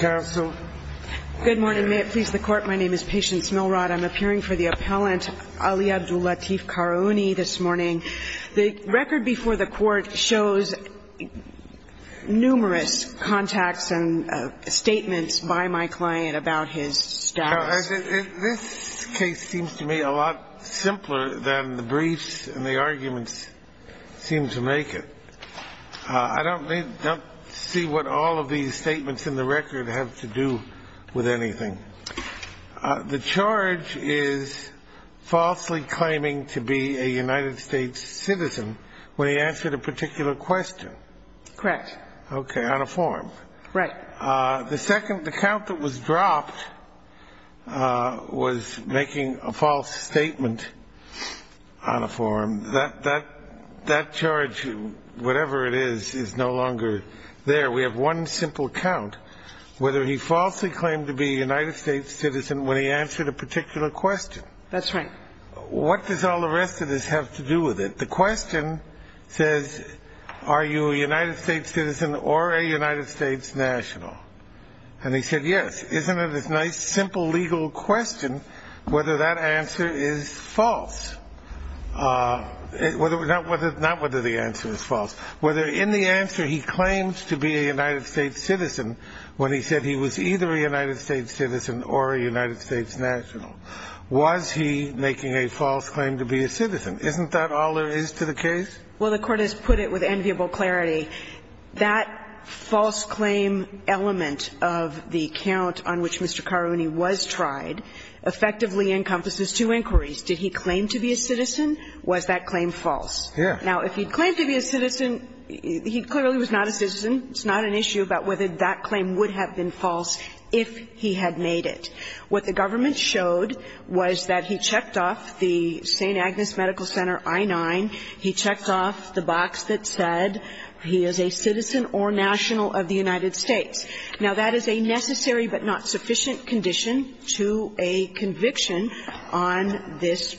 Good morning. May it please the court, my name is Patience Milrod. I'm appearing for the appellant Ali Abdul Latif Karaouni this morning. The record before the court shows numerous contacts and statements by my client about his status. This case seems to me a lot simpler than the briefs and the arguments seem to make it. I don't see what all of these statements in the record have to do with anything. The charge is falsely claiming to be a United States citizen when he answered a particular question. Correct. Okay, on a form. Right. The second, the count that was dropped was making a false statement on a form. That charge, whatever it is, is no longer there. We have one simple count, whether he falsely claimed to be a United States citizen when he answered a particular question. That's right. What does all the rest of this have to do with it? The question says, are you a United States citizen or a United States national? And he said, yes. Isn't it a nice, simple, legal question whether that answer is false? Not whether the answer is false, whether in the answer he claims to be a United States citizen when he said he was either a United States citizen or a United States national. Was he making a false claim to be a citizen? Isn't that all there is to the case? Well, the Court has put it with enviable clarity. That false claim element of the count on which Mr. Karhouni was tried effectively encompasses two inquiries. Did he claim to be a citizen? Was that claim false? Yes. Now, if he claimed to be a citizen, he clearly was not a citizen. It's not an issue about whether that claim would have been false if he had made it. What the government showed was that he checked off the St. Agnes Medical Center I-9. He checked off the box that said he is a citizen or national of the United States. Now, that is a necessary but not sufficient condition to a conviction on this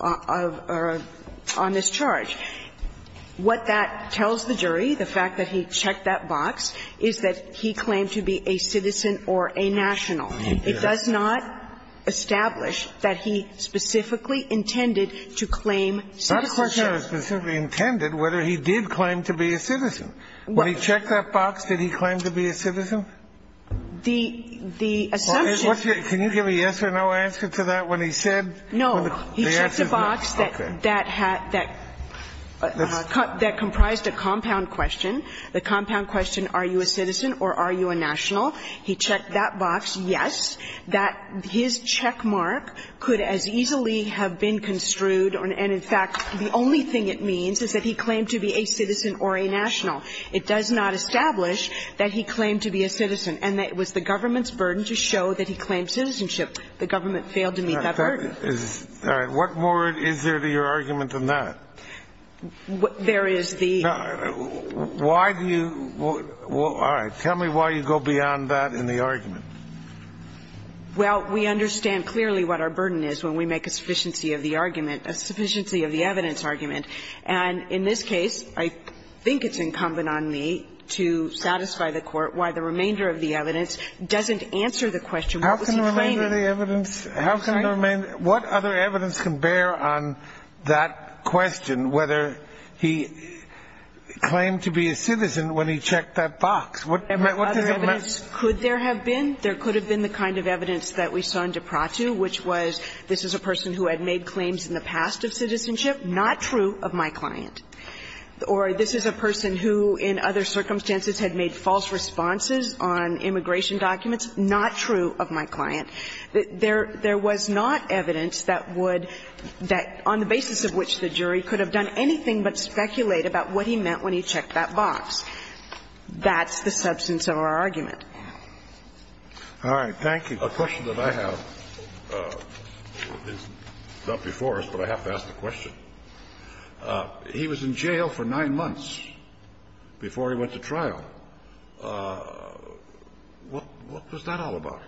of or on this charge. What that tells the jury, the fact that he checked that box, is that he claimed to be a citizen or a national. He did. It does not establish that he specifically intended to claim citizenship. It's not a question of specifically intended, whether he did claim to be a citizen. When he checked that box, did he claim to be a citizen? The assumption. Can you give a yes or no answer to that when he said? No. He checked a box that comprised a compound question. The compound question, are you a citizen or are you a national? He checked that box, yes. His check mark could as easily have been construed. And in fact, the only thing it means is that he claimed to be a citizen or a national. It does not establish that he claimed to be a citizen. And it was the government's burden to show that he claimed citizenship. The government failed to meet that burden. All right. What more is there to your argument than that? There is the ---- Why do you ---- all right. Tell me why you go beyond that in the argument. Well, we understand clearly what our burden is when we make a sufficiency of the argument, a sufficiency of the evidence argument. And in this case, I think it's incumbent on me to satisfy the Court why the remainder of the evidence doesn't answer the question, what was he claiming? What other evidence can bear on that question, whether he claimed to be a citizen when he checked that box? What does it mean? Could there have been? There could have been the kind of evidence that we saw in DiPrato, which was this is a person who had made claims in the past of citizenship, not true of my client. Or this is a person who in other circumstances had made false responses on immigration documents, not true of my client. There was not evidence that would ---- that on the basis of which the jury could have done anything but speculate about what he meant when he checked that box. That's the substance of our argument. All right. Thank you. The question that I have is not before us, but I have to ask the question. He was in jail for nine months before he went to trial. What was that all about?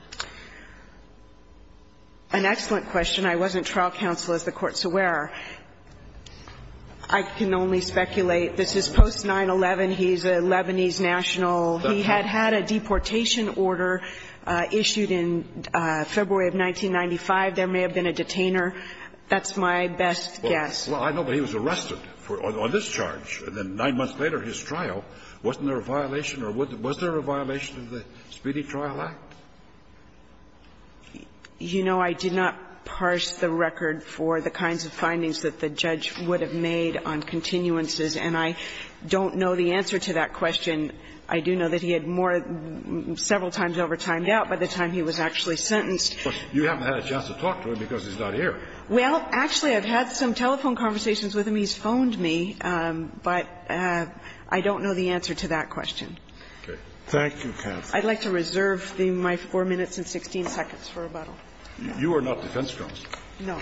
An excellent question. I wasn't trial counsel, as the Court's aware. I can only speculate. This is post-9-11. He's a Lebanese national. He had had a deportation order issued in February of 1995. There may have been a detainer. That's my best guess. Well, I know, but he was arrested on this charge. And then nine months later, his trial. Wasn't there a violation or was there a violation of the Speedy Trial Act? You know, I did not parse the record for the kinds of findings that the judge would have made on continuances, and I don't know the answer to that question. I do know that he had more several times overtimed out by the time he was actually sentenced. But you haven't had a chance to talk to him because he's not here. Well, actually, I've had some telephone conversations with him. He's phoned me. But I don't know the answer to that question. Okay. Thank you, counsel. I'd like to reserve my 4 minutes and 16 seconds for rebuttal. You are not defense counsel. No.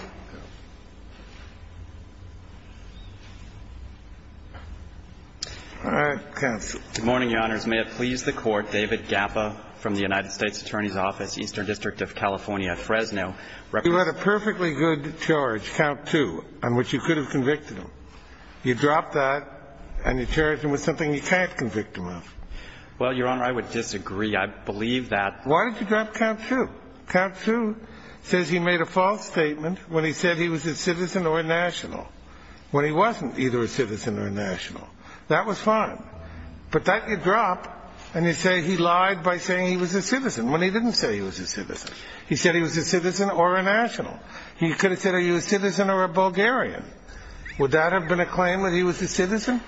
All right. Counsel. Good morning, Your Honors. May it please the Court, David Gappa from the United States Attorney's Office, Eastern District of California, Fresno. You had a perfectly good charge, count two, on which you could have convicted You dropped that and you charged him with something you can't convict him of. Well, Your Honor, I would disagree. I believe that Why did you drop count two? Count two says he made a false statement when he said he was a citizen or a national, when he wasn't either a citizen or a national. That was fine. But that you drop and you say he lied by saying he was a citizen when he didn't say he was a citizen. He said he was a citizen or a national. He could have said are you a citizen or a Bulgarian. Would that have been a claim that he was a citizen?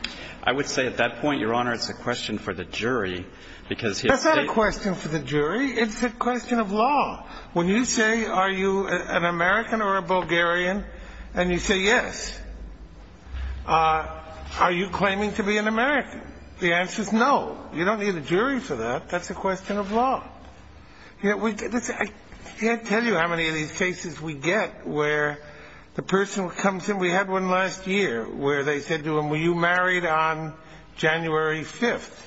I would say at that point, Your Honor, it's a question for the jury because That's not a question for the jury. It's a question of law. When you say are you an American or a Bulgarian and you say yes, are you claiming to be an American? The answer is no. You don't need a jury for that. That's a question of law. I can't tell you how many of these cases we get where the person comes in. We had one last year where they said to him, were you married on January 5th?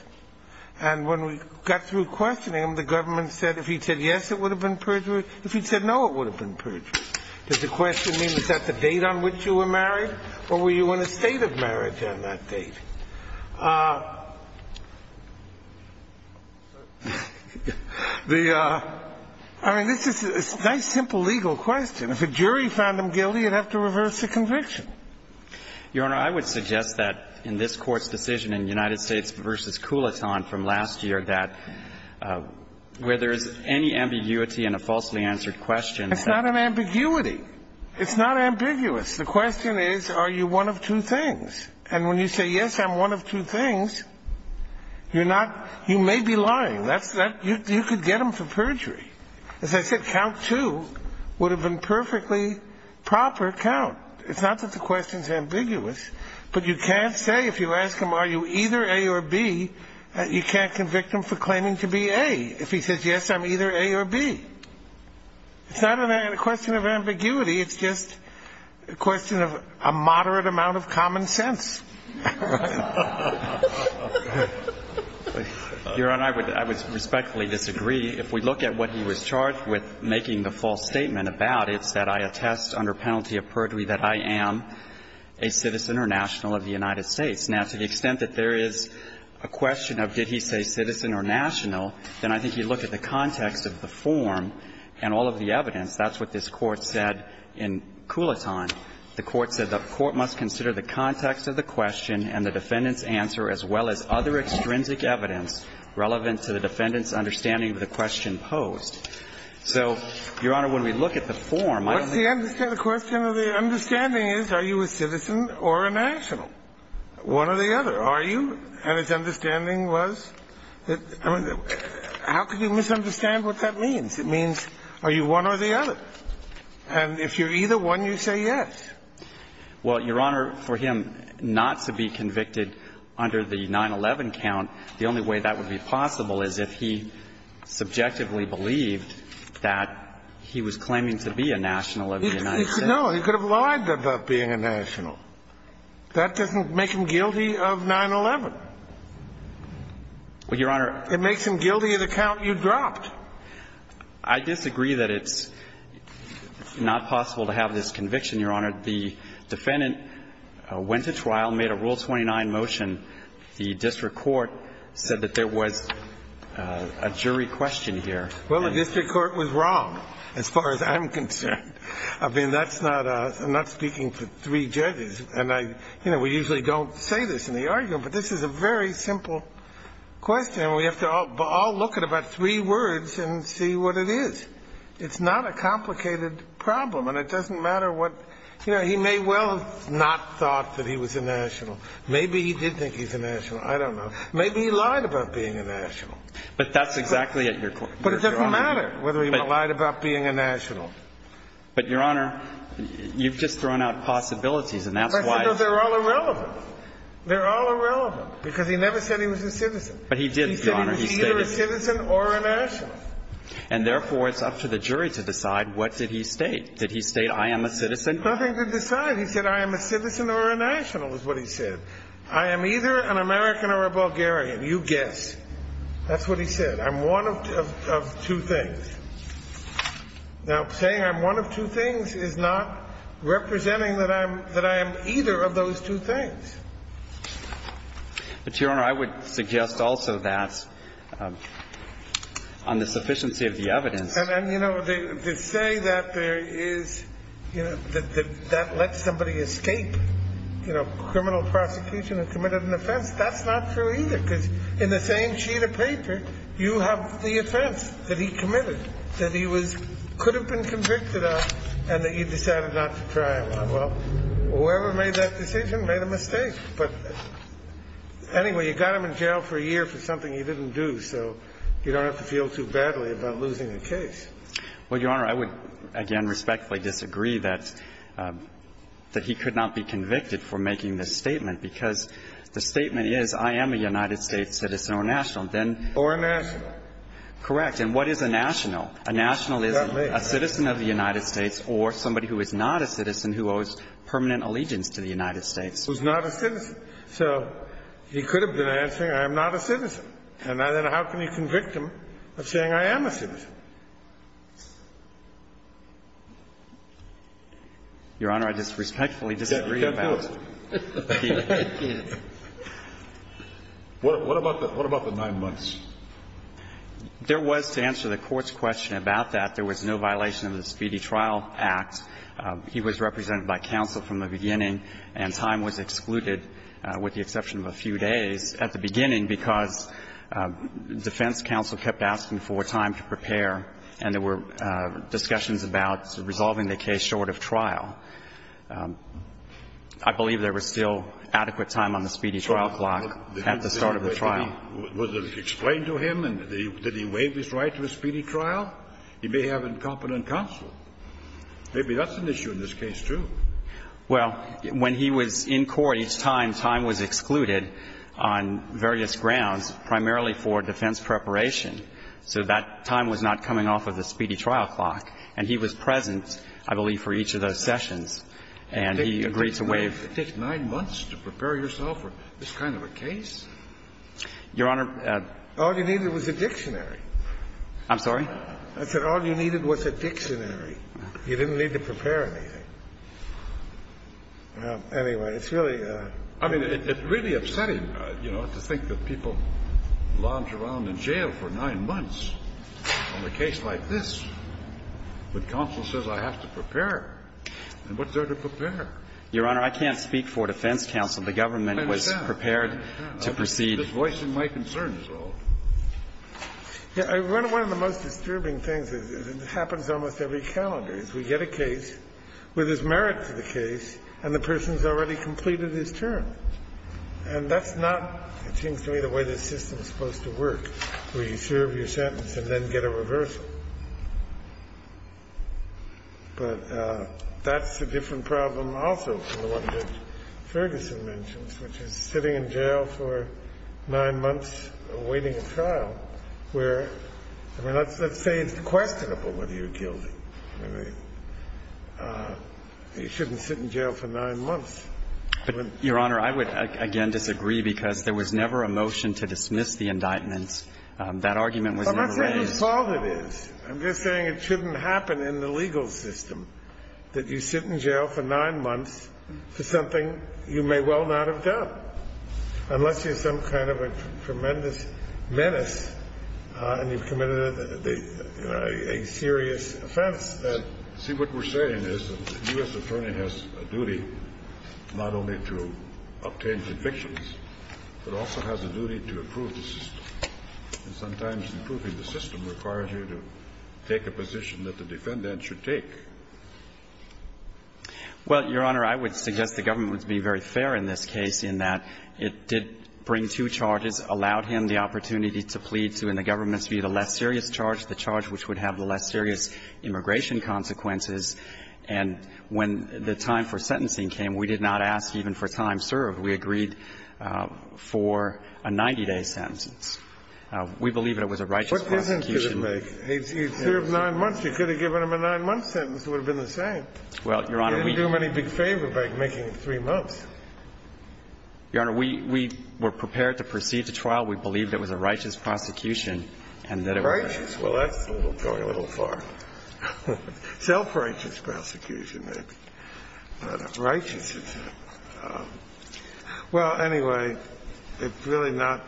And when we got through questioning him, the government said if he said yes, it would have been perjury. If he said no, it would have been perjury. Does the question mean is that the date on which you were married? Or were you in a state of marriage on that date? I mean, this is a nice simple legal question. If a jury found him guilty, you'd have to reverse the conviction. Your Honor, I would suggest that in this Court's decision in United States v. Coulaton from last year that where there is any ambiguity in a falsely answered question that It's not an ambiguity. It's not ambiguous. The question is are you one of two things? And when you say yes, I'm one of two things, you're not you may be lying. You could get him for perjury. As I said, count two would have been perfectly proper count. It's not that the question is ambiguous. But you can't say if you ask him are you either A or B, you can't convict him for claiming to be A. If he says yes, I'm either A or B. It's not a question of ambiguity. It's just a question of a moderate amount of common sense. Your Honor, I would respectfully disagree. If we look at what he was charged with making the false statement about, it's that I attest under penalty of perjury that I am a citizen or national of the United States. Now, to the extent that there is a question of did he say citizen or national, then I think you look at the context of the form and all of the evidence. That's what this Court said in Coulaton. The Court said the Court must consider the context of the question and the defendant's answer as well as other extrinsic evidence relevant to the defendant's understanding of the question posed. So, Your Honor, when we look at the form, I think the question of the understanding is are you a citizen or a national? One or the other. Are you? And his understanding was that how could you misunderstand what that means? It means are you one or the other? And if you're either one, you say yes. Well, Your Honor, for him not to be convicted under the 9-11 count, the only way that would be possible is if he subjectively believed that he was claiming to be a national of the United States. No. He could have lied about being a national. That doesn't make him guilty of 9-11. Well, Your Honor. It makes him guilty of the count you dropped. I disagree that it's not possible to have this conviction, Your Honor. The defendant went to trial, made a Rule 29 motion. The district court said that there was a jury question here. Well, the district court was wrong as far as I'm concerned. I mean, that's not a – I'm not speaking to three judges. And I – you know, we usually don't say this in the argument, but this is a very simple question. And we have to all look at about three words and see what it is. It's not a complicated problem. And it doesn't matter what – you know, he may well have not thought that he was a national. Maybe he did think he was a national. I don't know. Maybe he lied about being a national. But that's exactly at your – But it doesn't matter whether he lied about being a national. But, Your Honor, you've just thrown out possibilities, and that's why – I said, no, they're all irrelevant. They're all irrelevant because he never said he was a citizen. But he did, Your Honor. He said he was either a citizen or a national. And therefore, it's up to the jury to decide what did he state. Did he state, I am a citizen? Nothing to decide. He said, I am a citizen or a national, is what he said. I am either an American or a Bulgarian. You guess. That's what he said. I'm one of two things. Now, saying I'm one of two things is not representing that I'm – that I am either of those two things. But, Your Honor, I would suggest also that on the sufficiency of the evidence And, you know, to say that there is – that that lets somebody escape, you know, criminal prosecution and committed an offense, that's not true either. Because in the same sheet of paper, you have the offense that he committed, that he was – could have been convicted of, and that you decided not to try him. Well, whoever made that decision made a mistake. But anyway, you got him in jail for a year for something he didn't do, so you don't have to feel too badly about losing the case. Well, Your Honor, I would, again, respectfully disagree that he could not be convicted for making this statement, because the statement is, I am a United States citizen or a national. Or a national. Correct. And what is a national? A national is a citizen of the United States or somebody who is not a citizen who owes permanent allegiance to the United States. Who is not a citizen. So he could have been answering, I am not a citizen. And then how can you convict him of saying I am a citizen? Your Honor, I just respectfully disagree about that. What about the nine months? There was, to answer the Court's question about that, there was no violation of the Speedy Trial Act. He was represented by counsel from the beginning, and time was excluded with the exception of a few days at the beginning, because defense counsel kept asking for time to prepare, and there were discussions about resolving the case short of trial. I believe there was still adequate time on the Speedy Trial Clock at the start of the trial. Was it explained to him? Did he waive his right to a Speedy Trial? He may have incompetent counsel. Maybe that's an issue in this case, too. Well, when he was in court, each time time was excluded on various grounds, primarily for defense preparation. So that time was not coming off of the Speedy Trial Clock. And he was present, I believe, for each of those sessions. And he agreed to waive. It takes nine months to prepare yourself for this kind of a case? Your Honor. All you needed was a dictionary. I'm sorry? I said all you needed was a dictionary. You didn't need to prepare anything. Anyway, it's really upsetting, you know, to think that people lounge around in jail for nine months on a case like this, but counsel says I have to prepare. And what's there to prepare? Your Honor, I can't speak for defense counsel. The government was prepared to proceed. I understand. This voice in my concern is old. Yeah. One of the most disturbing things is it happens almost every calendar, is we get a case with his merit to the case, and the person's already completed his term. And that's not, it seems to me, the way the system's supposed to work, where you serve your sentence and then get a reversal. But that's a different problem also from the one that Ferguson mentions, which is sitting in jail for nine months awaiting a trial, where, I mean, let's say it's questionable whether you're guilty. I mean, you shouldn't sit in jail for nine months. But, Your Honor, I would, again, disagree, because there was never a motion to dismiss the indictment. That argument was never raised. But that's not whose fault it is. I'm just saying it shouldn't happen in the legal system, that you sit in jail for nine months, and you get a reversal, unless you have some kind of a tremendous menace and you've committed a serious offense. See, what we're saying is the U.S. attorney has a duty not only to obtain convictions, but also has a duty to approve the system. And sometimes approving the system requires you to take a position that the defendant should take. Well, Your Honor, I would suggest the government would be very fair in this case in that it did bring two charges, allowed him the opportunity to plead to, in the government's view, the less serious charge, the charge which would have the less serious immigration consequences. And when the time for sentencing came, we did not ask even for time served. We agreed for a 90-day sentence. We believe it was a righteous prosecution. What difference did it make? He served nine months. You could have given him a nine-month sentence. It would have been the same. Well, Your Honor, we didn't do him any big favor by making it three months. Your Honor, we were prepared to proceed to trial. We believed it was a righteous prosecution, and that it was. Righteous? Well, that's going a little far. Self-righteous prosecution, maybe. But righteous, it's not. Well, anyway, it's really not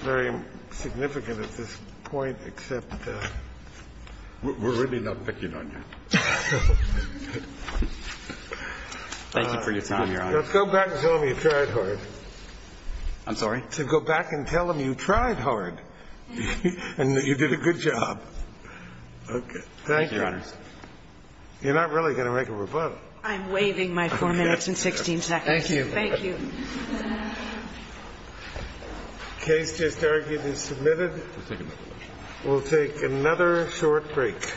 very significant at this point, except we're really not picking on you. Thank you for your time, Your Honor. Now, go back and tell them you tried hard. I'm sorry? Go back and tell them you tried hard and that you did a good job. Thank you. Thank you, Your Honor. You're not really going to make a rebuttal. I'm waiving my four minutes and 16 seconds. Thank you. Thank you. Case just argued and submitted. We'll take another short break.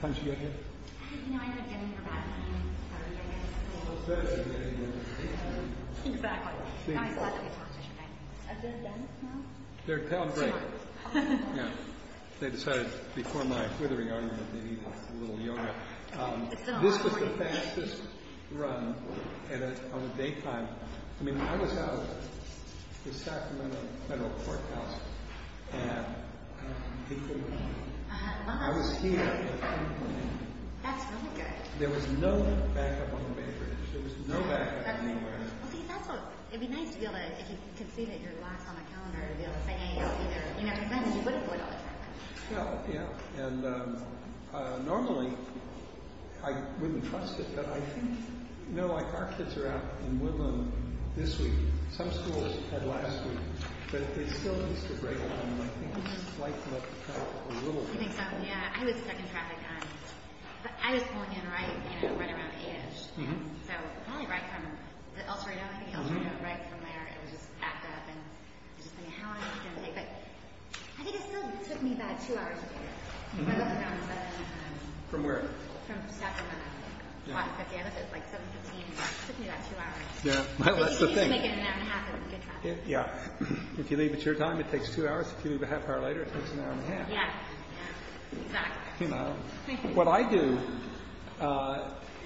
Thank you. Thank you. Thank you. This was the fastest run on a daytime. I mean, I was out at the Sacramento Federal Courthouse, and I was here. That's really good. There was no backup on the main bridge. There was no backup anywhere else. Well, see, that's what – it'd be nice to be able to – if you could see that you're locked on a calendar, to be able to say, you know, you never send. You would have would all the time. Yeah. And normally, I wouldn't trust it, but I think – you know, like, our kids are out in Woodlawn this week. Some schools had last week, but they still used to break down, and I think it's likely to cut a little bit. You think so? Yeah. I was stuck in traffic on – I was pulling in right, you know, right around 8-ish. So probably right from the El Toro, I think, El Toro, right from there, it was just backed up, and it was just, I mean, how long is it going to take? But I think it still took me about two hours to get there. I got there around 7-ish times. From where? From Sacramento. Yeah. It's like 7-15. It took me about two hours. Yeah. That's the thing. But you can easily make it an hour and a half in good traffic. Yeah. If you leave it to your time, it takes two hours. If you leave it a half hour later, it takes an hour and a half. Yeah. Yeah. Exactly. You know, what I do,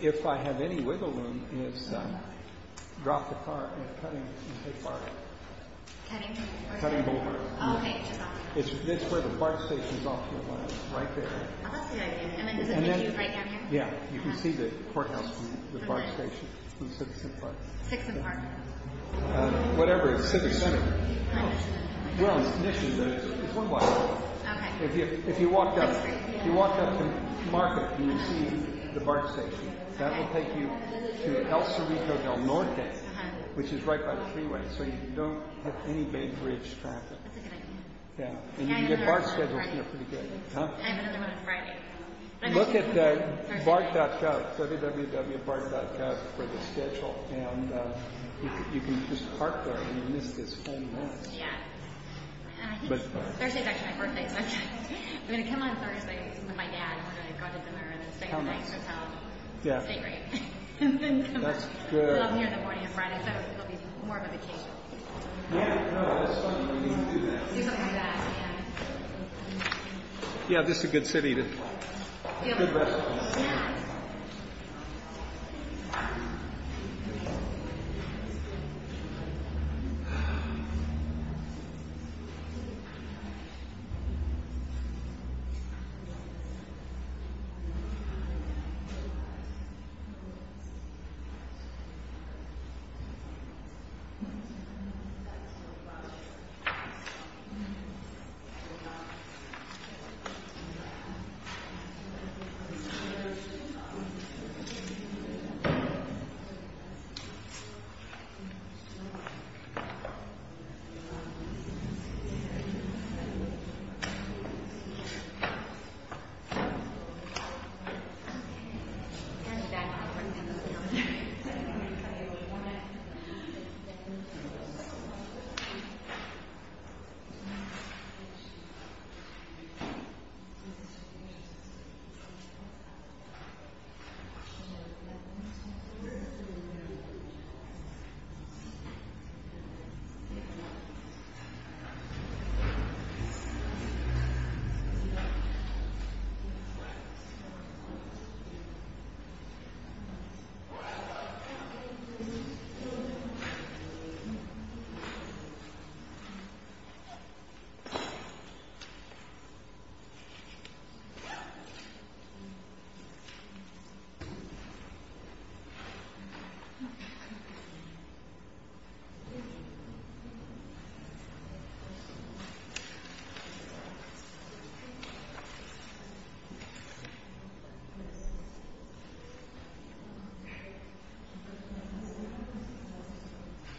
if I have any wiggle room, is drop the cart and cut it and take part of it. Cutting? Cutting board. Oh, okay. Just off. It's where the BART station is off to the left. Right there. Oh, that's a good idea. And then does it take you right down here? Yeah. You can see the courthouse from the BART station. From Citizen Park. Sixth and Park. Whatever. It's Civic Center. No, it's Mission. Well, it's Mission, but it's one block away. Okay. If you walked up to Market, you would see the BART station. So you don't have any main street. So you don't have any main street. So you don't have any main street. So you don't have any main street. It's a good idea. And you can get BART scheduled here pretty good. I have another one on Friday. Look at the BART.gov. Www.bart.gov for the schedule. And you can just park there and you'll miss this whole mess. Yeah. I think Thursday's actually my birthday. So I'm going to come on Thursday with my dad. We're going to go out to dinner and then stay the night. Stay great. I'll show you. Yeah. We'll take a little trip. We'll take a little trip. Yeah. This is a good city. Good restaurants. Yeah. Yeah. Yeah. Yeah. Yeah. Yeah. Yeah. Yeah. Yeah. Yeah. Yeah. Yeah. Yeah. Yeah. Yeah. Yeah.